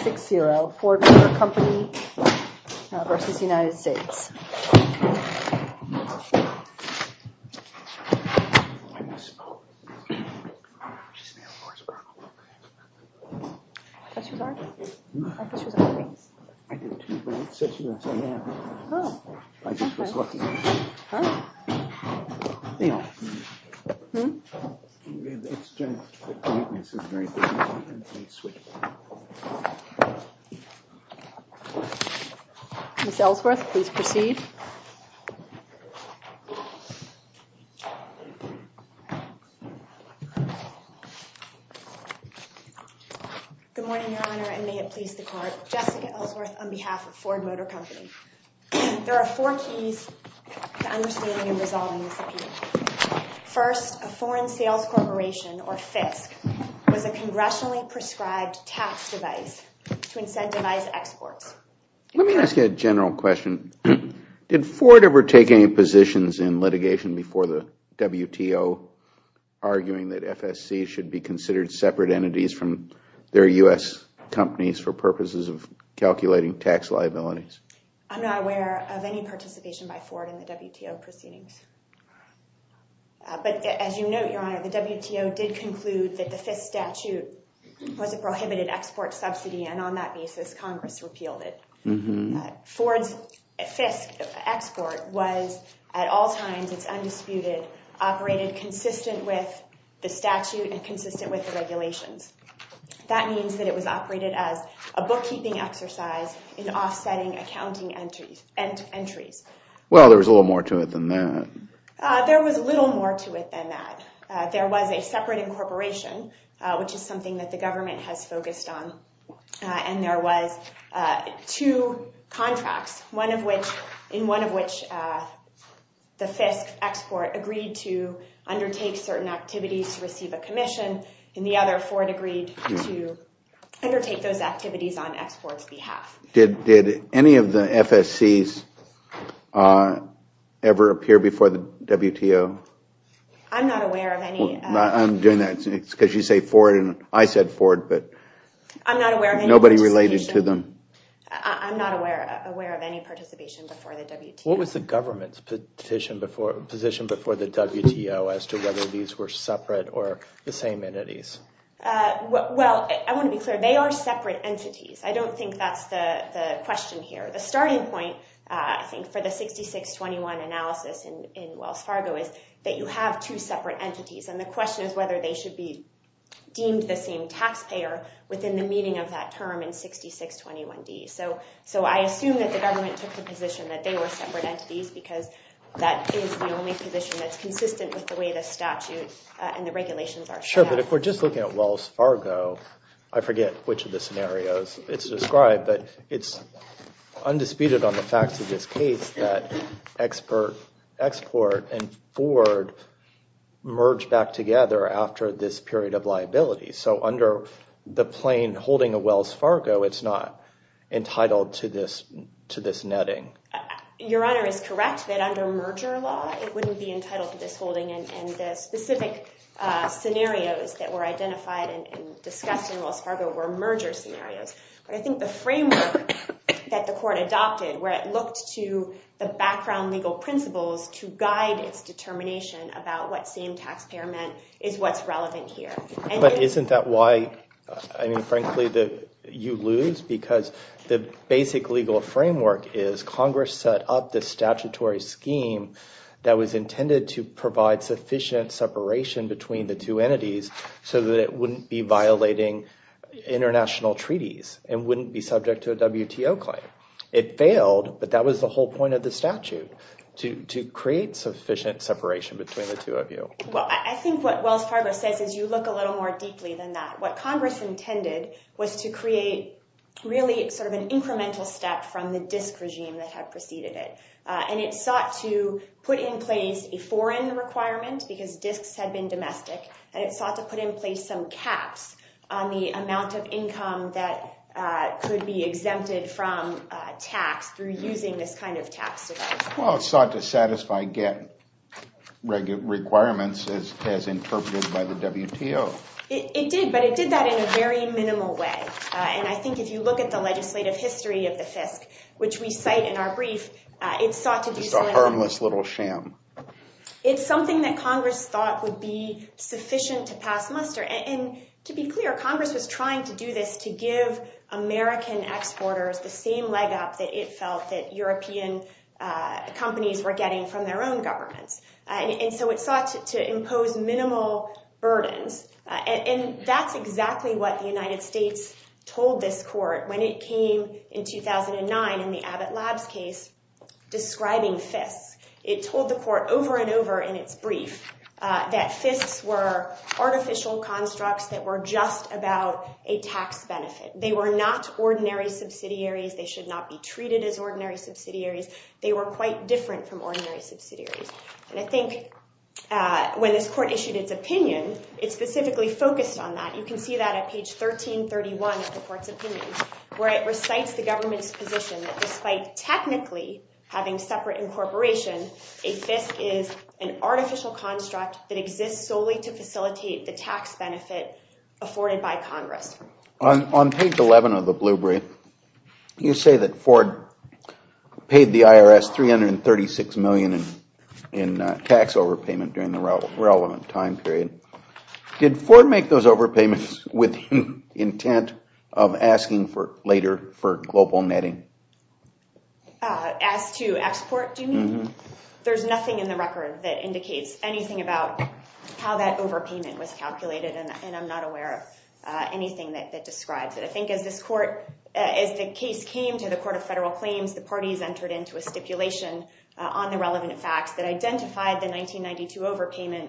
6-0, Ford Motor Company versus United States. Ms. Ellsworth, please proceed. Good morning, Your Honor, and may it please the Court. Jessica Ellsworth on behalf of Ford Motor Company. There are four keys to understanding and resolving this appeal. First, a foreign sales corporation, or FISC, was a congressionally prescribed tax device to incentivize exports. Let me ask you a general question. Did Ford ever take any positions in litigation before the WTO, arguing that FSC should be considered separate entities from their U.S. companies for purposes of calculating tax liabilities? I'm not aware of any participation by Ford in the WTO proceedings. But as you note, Your Honor, the WTO did conclude that the FISC statute was a prohibited export subsidy, and on that basis, Congress repealed it. Ford's FISC export was, at all times, it's undisputed, operated consistent with the statute and consistent with the regulations. That means that it was operated as a bookkeeping exercise in offsetting accounting entries. Well, there was a little more to it than that. There was a little more to it than that. There was a separate incorporation, which is something that the government has focused on, and there was two contracts, one in which the FISC export agreed to undertake certain activities to receive a commission. In the other, Ford agreed to undertake those activities on export's behalf. Did any of the FSCs ever appear before the WTO? I'm not aware of any. I'm doing that because you say Ford, and I said Ford, but nobody related to them. I'm not aware of any participation before the WTO. What was the government's position before the WTO as to whether these were separate or the same entities? Well, I want to be clear. They are separate entities. I don't think that's the question here. The starting point, I think, for the 6621 analysis in Wells Fargo is that you have two separate entities, and the question is whether they should be deemed the same taxpayer within the meaning of that term in 6621D. So I assume that the government took the position that they were separate entities because that is the only position that's consistent with the way the statute and the regulations are set up. Sure, but if we're just looking at Wells Fargo, I forget which of the scenarios it's described, but it's undisputed on the facts of this case that export and Ford merged back together after this period of liability. So under the plain holding of Wells Fargo, it's not entitled to this netting. Your Honor is correct that under merger law, it wouldn't be entitled to this holding, and the specific scenarios that were identified and discussed in Wells Fargo were merger scenarios. But I think the framework that the court adopted where it looked to the background legal principles to guide its determination about what same taxpayer meant is what's relevant here. But isn't that why, I mean, frankly, you lose? Because the basic legal framework is Congress set up this statutory scheme that was intended to provide sufficient separation between the two entities so that it wouldn't be violating international treaties and wouldn't be subject to a WTO claim. It failed, but that was the whole point of the statute, to create sufficient separation between the two of you. Well, I think what Wells Fargo says is you look a little more deeply than that. What Congress intended was to create really sort of an incremental step from the DISC regime that had preceded it. And it sought to put in place a foreign requirement because DISCs had been domestic, and it sought to put in place some caps on the amount of income that could be exempted from tax through using this kind of tax system. Well, it sought to satisfy GATT requirements as interpreted by the WTO. It did, but it did that in a very minimal way. And I think if you look at the legislative history of the FISC, which we cite in our brief, it sought to do so. Just a harmless little sham. It's something that Congress thought would be sufficient to pass muster. And to be clear, Congress was trying to do this to give American exporters the same leg up that it felt that European companies were getting from their own governments. And so it sought to impose minimal burdens. And that's exactly what the United States told this court when it came in 2009 in the Abbott Labs case describing FISC. It told the court over and over in its brief that FISCs were artificial constructs that were just about a tax benefit. They were not ordinary subsidiaries. They should not be treated as ordinary subsidiaries. They were quite different from ordinary subsidiaries. And I think when this court issued its opinion, it specifically focused on that. You can see that at page 1331 of the court's opinion, where it recites the government's position that despite technically having separate incorporation, a FISC is an artificial construct that exists solely to facilitate the tax benefit afforded by Congress. On page 11 of the blue brief, you say that Ford paid the IRS $336 million in tax overpayment during the relevant time period. Did Ford make those overpayments with intent of asking later for global netting? As to export, there's nothing in the record that indicates anything about how that overpayment was calculated, and I'm not aware of anything that describes it. I think as the case came to the Court of Federal Claims, the parties entered into a stipulation on the relevant facts that identified the 1992 overpayment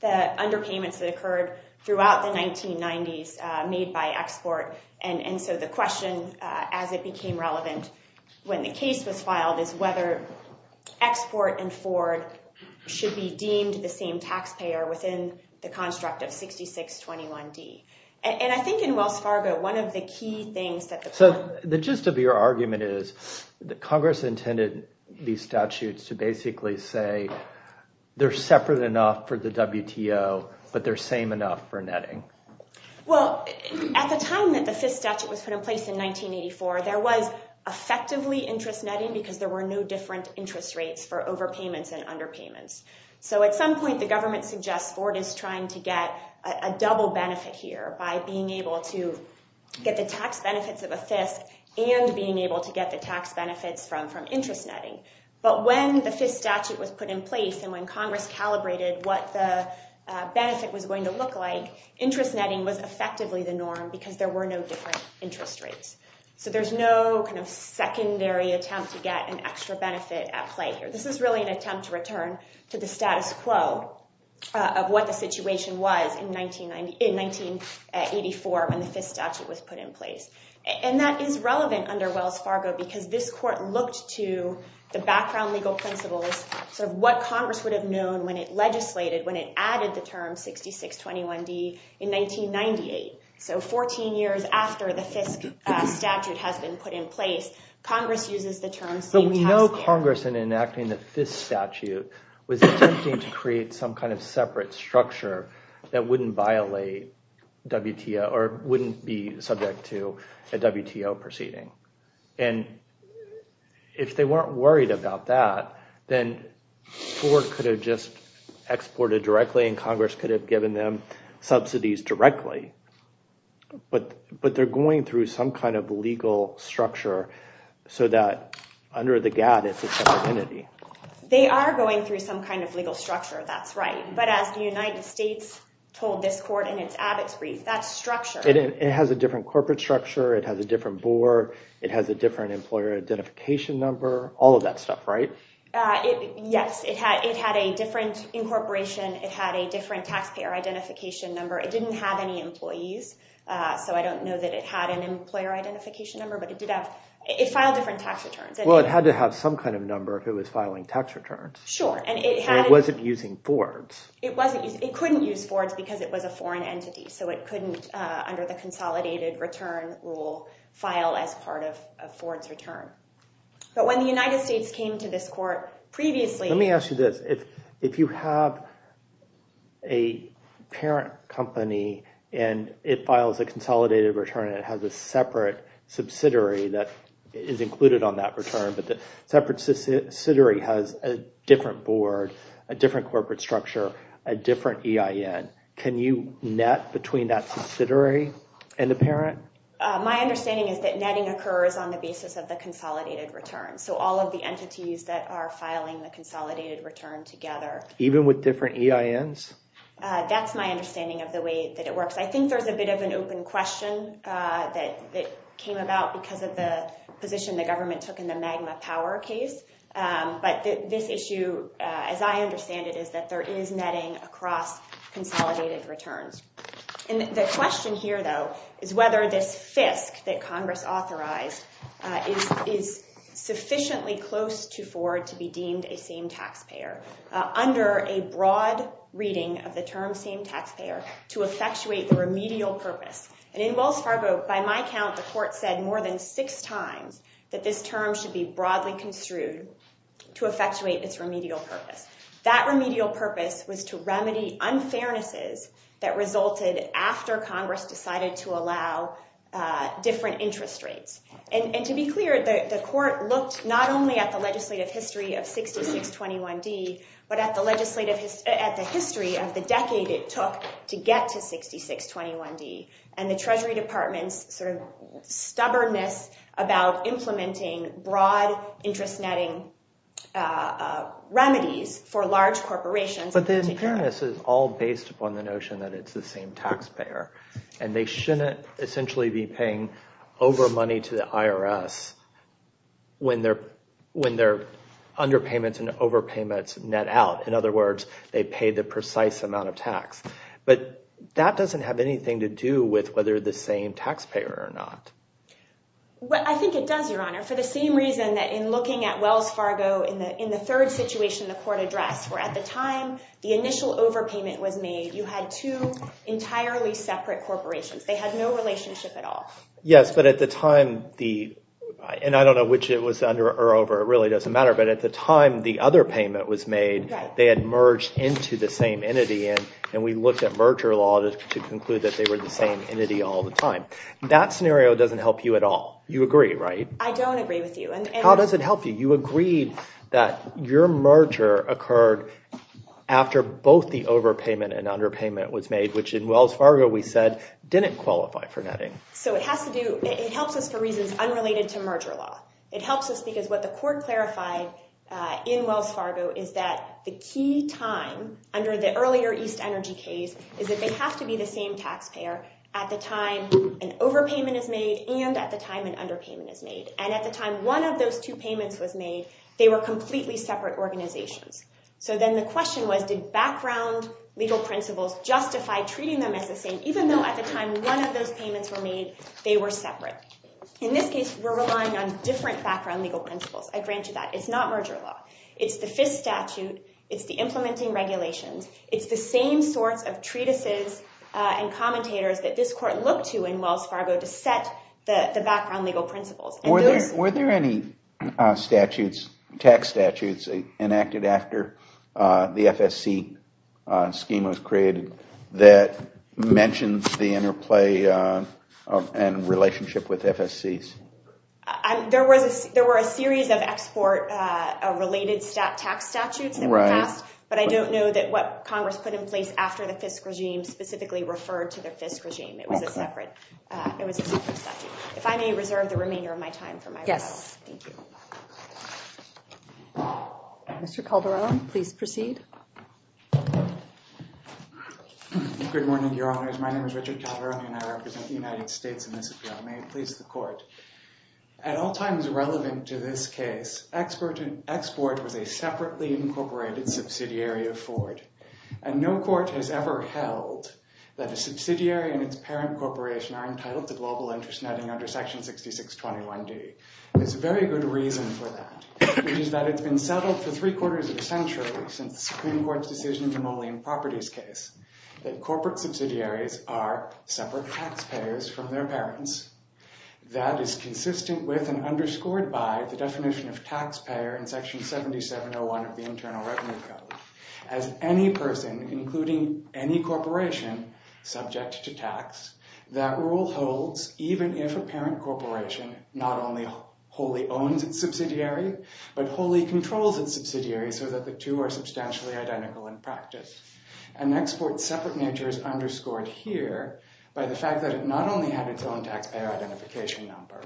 that underpayments that occurred throughout the 1990s made by export. And so the question as it became relevant when the case was filed is whether export and Ford should be deemed the same taxpayer within the construct of 6621D. And I think in Wells Fargo, one of the key things that the court... So the gist of your argument is that Congress intended these statutes to basically say they're separate enough for the WTO, but they're same enough for netting. Well, at the time that the Fisk statute was put in place in 1984, there was effectively interest netting because there were no different interest rates for overpayments and underpayments. So at some point, the government suggests Ford is trying to get a double benefit here by being able to get the tax benefits of a Fisk and being able to get the tax benefits from interest netting. But when the Fisk statute was put in place and when Congress calibrated what the benefit was going to look like, interest netting was effectively the norm because there were no different interest rates. So there's no kind of secondary attempt to get an extra benefit at play here. This is really an attempt to return to the status quo of what the situation was in 1984 when the Fisk statute was put in place. And that is relevant under Wells Fargo because this court looked to the background legal principles of what Congress would have known when it legislated, when it added the term 6621D in 1998. So 14 years after the Fisk statute has been put in place, Congress uses the term... But we know Congress, in enacting the Fisk statute, was attempting to create some kind of separate structure that wouldn't violate WTO or wouldn't be subject to a WTO proceeding. And if they weren't worried about that, then Ford could have just exported directly and Congress could have given them subsidies directly. But they're going through some kind of legal structure so that under the GATT it's a separate entity. They are going through some kind of legal structure, that's right. But as the United States told this court in its Abbott's brief, that structure... It has a different corporate structure. It has a different board. It has a different employer identification number. All of that stuff, right? Yes. It had a different incorporation. It had a different taxpayer identification number. It didn't have any employees, so I don't know that it had an employer identification number. But it filed different tax returns. Well, it had to have some kind of number if it was filing tax returns. It wasn't using Ford's. It couldn't use Ford's because it was a foreign entity. So it couldn't, under the consolidated return rule, file as part of Ford's return. But when the United States came to this court previously... Let me ask you this. If you have a parent company and it files a consolidated return and it has a separate subsidiary that is included on that return, but the separate subsidiary has a different board, a different corporate structure, a different EIN, can you net between that subsidiary and the parent? My understanding is that netting occurs on the basis of the consolidated return. So all of the entities that are filing the consolidated return together. Even with different EINs? That's my understanding of the way that it works. I think there's a bit of an open question that came about because of the position the government took in the Magma Power case. But this issue, as I understand it, is that there is netting across consolidated returns. And the question here, though, is whether this fisc that Congress authorized is sufficiently close to Ford to be deemed a same taxpayer under a broad reading of the term same taxpayer to effectuate the remedial purpose. And in Wells Fargo, by my count, the court said more than six times that this term should be broadly construed to effectuate its remedial purpose. That remedial purpose was to remedy unfairnesses that resulted after Congress decided to allow different interest rates. And to be clear, the court looked not only at the legislative history of 6621D, but at the history of the decade it took to get to 6621D and the Treasury Department's stubbornness about implementing broad interest netting remedies for large corporations. But the unfairness is all based upon the notion that it's the same taxpayer. And they shouldn't essentially be paying over money to the IRS when their underpayments and overpayments net out. In other words, they pay the precise amount of tax. But that doesn't have anything to do with whether they're the same taxpayer or not. Well, I think it does, Your Honor, for the same reason that in looking at Wells Fargo in the third situation the court addressed, where at the time the initial overpayment was made, you had two entirely separate corporations. They had no relationship at all. Yes, but at the time, and I don't know which it was under or over. It really doesn't matter. But at the time the other payment was made, they had merged into the same entity. And we looked at merger law to conclude that they were the same entity all the time. That scenario doesn't help you at all. You agree, right? How does it help you? You agreed that your merger occurred after both the overpayment and underpayment was made, which in Wells Fargo we said didn't qualify for netting. So it helps us for reasons unrelated to merger law. It helps us because what the court clarified in Wells Fargo is that the key time under the earlier East Energy case is that they have to be the same taxpayer at the time an overpayment is made and at the time an underpayment is made. And at the time one of those two payments was made, they were completely separate organizations. So then the question was, did background legal principles justify treating them as the same, even though at the time one of those payments were made, they were separate? In this case, we're relying on different background legal principles. I grant you that. It's not merger law. It's the FIS statute. It's the implementing regulations. It's the same sorts of treatises and commentators that this court looked to in Wells Fargo to set the background legal principles. Were there any statutes, tax statutes, enacted after the FSC scheme was created that mentioned the interplay and relationship with FSCs? There were a series of export related tax statutes that were passed, but I don't know that what Congress put in place after the FIS regime specifically referred to the FIS regime. It was a separate statute. If I may reserve the remainder of my time for my rebuttal. Yes. Thank you. Mr. Calderon, please proceed. Good morning, Your Honors. My name is Richard Calderon, and I represent the United States in this appeal. May it please the court. At all times relevant to this case, export was a separately incorporated subsidiary of Ford. And no court has ever held that a subsidiary and its parent corporation are entitled to global interest netting under Section 6621D. There's a very good reason for that, which is that it's been settled for three quarters of a century since the Supreme Court's decision in the Moline Properties case that corporate subsidiaries are separate taxpayers from their parents. That is consistent with and underscored by the definition of taxpayer in Section 7701 of the Internal Revenue Code. As any person, including any corporation, subject to tax, that rule holds even if a parent corporation not only wholly owns its subsidiary, but wholly controls its subsidiary so that the two are substantially identical in practice. An export's separate nature is underscored here by the fact that it not only had its own taxpayer identification number,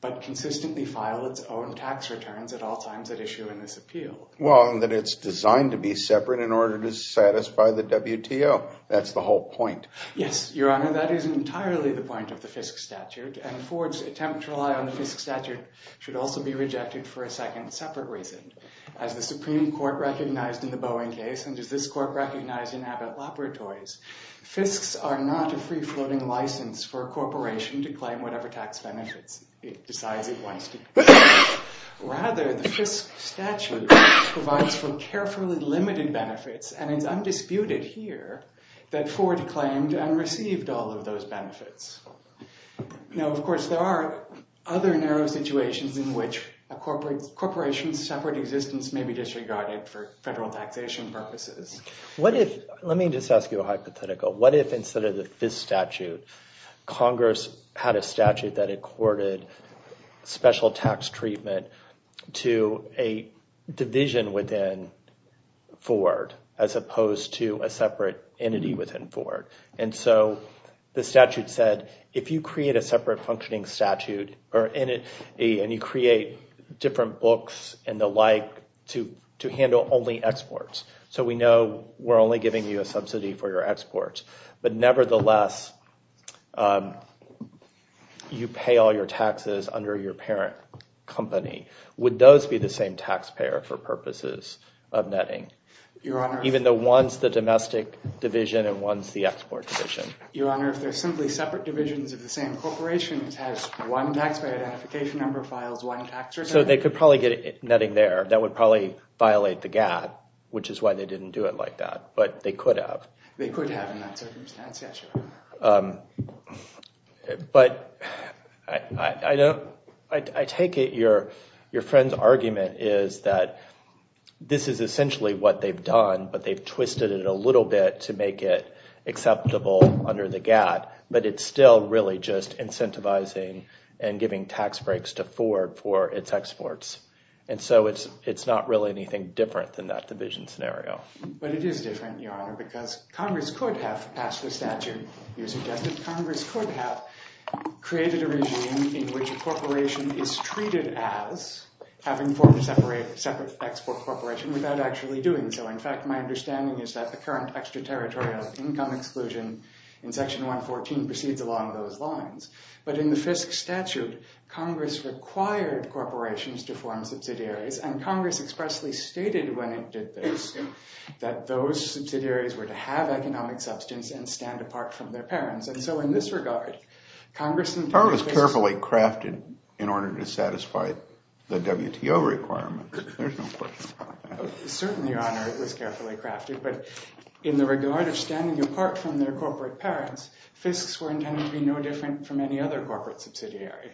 but consistently filed its own tax returns at all times at issue in this appeal. Well, and that it's designed to be separate in order to satisfy the WTO. That's the whole point. Yes, Your Honor, that is entirely the point of the FISC statute, and Ford's attempt to rely on the FISC statute should also be rejected for a second separate reason. As the Supreme Court recognized in the Boeing case, and as this court recognized in Abbott Laboratories, FISCs are not a free-floating license for a corporation to claim whatever tax benefits it decides it wants to claim. Rather, the FISC statute provides for carefully limited benefits, and it's undisputed here that Ford claimed and received all of those benefits. Now, of course, there are other narrow situations in which a corporation's separate existence may be disregarded for federal taxation purposes. Let me just ask you a hypothetical. What if instead of the FISC statute, Congress had a statute that accorded special tax treatment to a division within Ford as opposed to a separate entity within Ford? And so the statute said, if you create a separate functioning statute, and you create different books and the like to handle only exports, so we know we're only giving you a subsidy for your exports, but nevertheless you pay all your taxes under your parent company, would those be the same taxpayer for purposes of netting? Even though one's the domestic division and one's the export division? Your Honor, if they're simply separate divisions of the same corporation, it has one taxpayer identification number, files one tax or something? So they could probably get netting there. That would probably violate the GATT, which is why they didn't do it like that, but they could have. They could have in that circumstance, yes, Your Honor. But I take it your friend's argument is that this is essentially what they've done, but they've twisted it a little bit to make it acceptable under the GATT, but it's still really just incentivizing and giving tax breaks to Ford for its exports. And so it's not really anything different than that division scenario. But it is different, Your Honor, because Congress could have passed the statute. You suggested Congress could have created a regime in which a corporation is treated as having formed a separate export corporation without actually doing so. In fact, my understanding is that the current extraterritorial income exclusion in Section 114 proceeds along those lines. But in the FISC statute, Congress required corporations to form subsidiaries, and Congress expressly stated when it did this that those subsidiaries were to have economic substance and stand apart from their parents. And so in this regard, Congress intended— It was carefully crafted in order to satisfy the WTO requirements. There's no question about that. Certainly, Your Honor, it was carefully crafted. But in the regard of standing apart from their corporate parents, FISCs were intended to be no different from any other corporate subsidiary.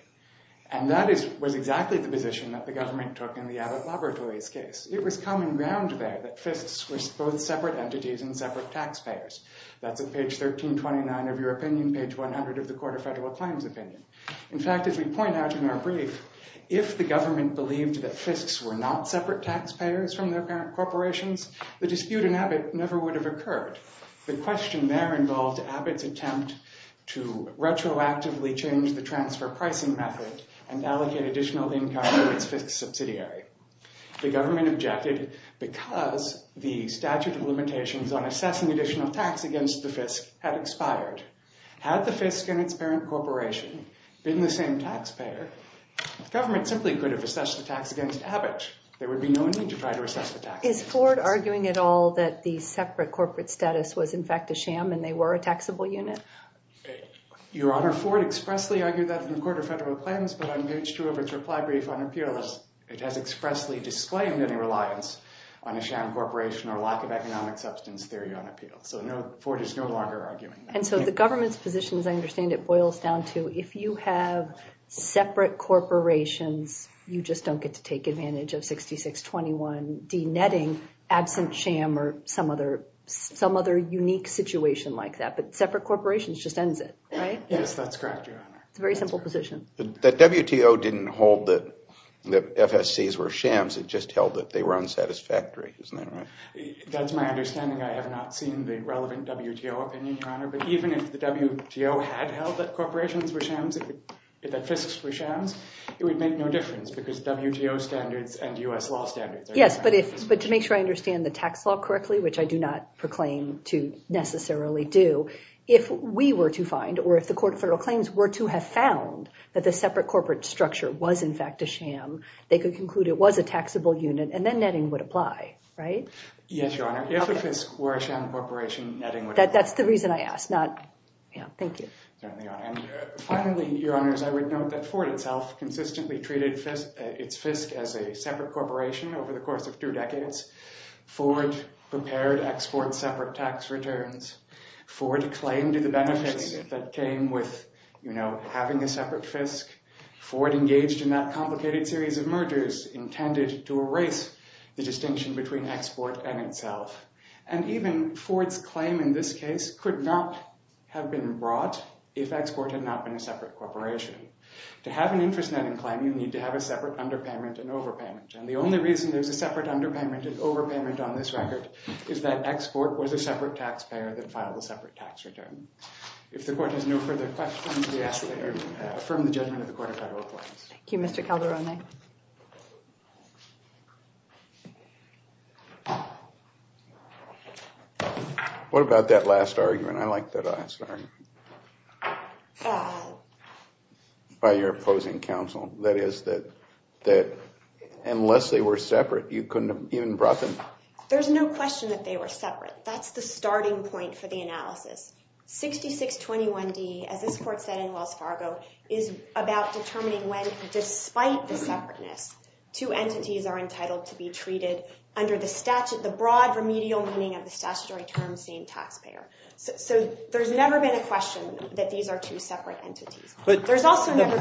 And that was exactly the position that the government took in the Abbott Laboratories case. It was common ground there that FISCs were both separate entities and separate taxpayers. That's at page 1329 of your opinion, page 100 of the Court of Federal Claims opinion. In fact, as we point out in our brief, if the government believed that FISCs were not separate taxpayers from their parent corporations, the dispute in Abbott never would have occurred. The question there involved Abbott's attempt to retroactively change the transfer pricing method and allocate additional income to its FISC subsidiary. The government objected because the statute of limitations on assessing additional tax against the FISC had expired. Had the FISC and its parent corporation been the same taxpayer, the government simply could have assessed the tax against Abbott. There would be no need to try to assess the tax. Is Ford arguing at all that the separate corporate status was in fact a sham and they were a taxable unit? Your Honor, Ford expressly argued that in the Court of Federal Claims, but on page 2 of its reply brief on appeal, it has expressly disclaimed any reliance on a sham corporation or lack of economic substance theory on appeal. So Ford is no longer arguing that. And so the government's position, as I understand it, boils down to if you have separate corporations, you just don't get to take advantage of 6621 denetting absent sham or some other unique situation like that. But separate corporations just ends it, right? Yes, that's correct, Your Honor. It's a very simple position. The WTO didn't hold that FSCs were shams. It just held that they were unsatisfactory. Isn't that right? That's my understanding. I have not seen the relevant WTO opinion, Your Honor. But even if the WTO had held that corporations were shams, that FISCs were shams, it would make no difference because WTO standards and U.S. law standards are different. Yes, but to make sure I understand the tax law correctly, which I do not proclaim to necessarily do, if we were to find or if the court of federal claims were to have found that the separate corporate structure was, in fact, a sham, they could conclude it was a taxable unit, and then netting would apply, right? Yes, Your Honor. If a FISC were a sham corporation, netting would apply. That's the reason I asked. Thank you. Certainly, Your Honor. And finally, Your Honors, I would note that Ford itself consistently treated its FISC as a separate corporation over the course of two decades. Ford prepared export separate tax returns. Ford claimed the benefits that came with having a separate FISC. Ford engaged in that complicated series of mergers intended to erase the distinction between export and itself. And even Ford's claim in this case could not have been brought if export had not been a separate corporation. To have an interest netting claim, you need to have a separate underpayment and overpayment. And the only reason there's a separate underpayment and overpayment on this record is that export was a separate taxpayer that filed a separate tax return. If the court has no further questions, we ask that you affirm the judgment of the court of federal claims. Thank you, Mr. Calderone. What about that last argument? I liked that last argument by your opposing counsel. That is that unless they were separate, you couldn't have even brought them. There's no question that they were separate. That's the starting point for the analysis. 6621D, as this court said in Wells Fargo, is about determining when, despite the separateness, two entities are entitled to be treated under the broad remedial meaning of the statutory term same taxpayer. So there's never been a question that these are two separate entities. The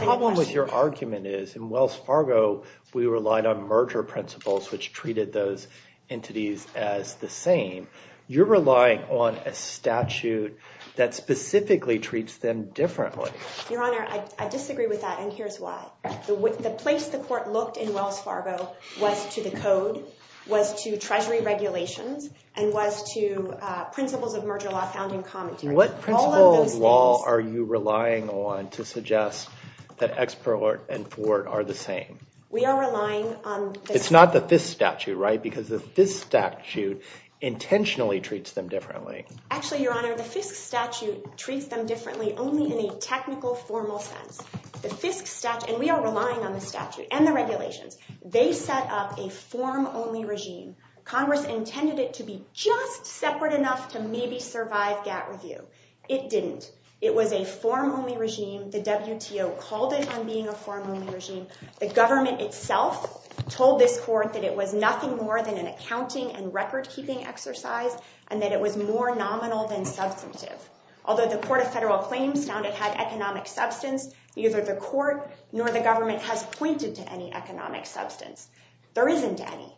problem with your argument is in Wells Fargo, we relied on merger principles, which treated those entities as the same. You're relying on a statute that specifically treats them differently. Your Honor, I disagree with that, and here's why. The place the court looked in Wells Fargo was to the code, was to treasury regulations, and was to principles of merger law found in commentary. And what principle of law are you relying on to suggest that Expert and Ford are the same? We are relying on the statute. It's not the Fisk statute, right, because the Fisk statute intentionally treats them differently. Actually, Your Honor, the Fisk statute treats them differently only in a technical, formal sense. The Fisk statute, and we are relying on the statute and the regulations. They set up a form-only regime. Congress intended it to be just separate enough to maybe survive GATT review. It didn't. It was a form-only regime. The WTO called it on being a form-only regime. The government itself told this court that it was nothing more than an accounting and record-keeping exercise, and that it was more nominal than substantive. Although the Court of Federal Claims found it had economic substance, neither the court nor the government has pointed to any economic substance. There isn't any.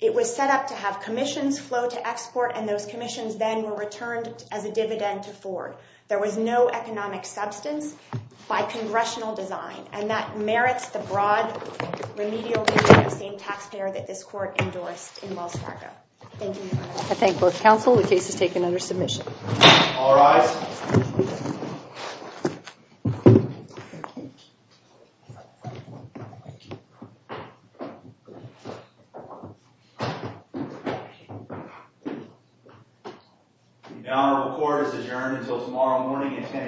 It was set up to have commissions flow to Export, and those commissions then were returned as a dividend to Ford. There was no economic substance by congressional design, and that merits the broad remedial regime of same taxpayer that this court endorsed in Wells Fargo. Thank you, Your Honor. I thank both counsel. The case is taken under submission. All rise. Your Honor, the court is adjourned until tomorrow morning at 10 a.m.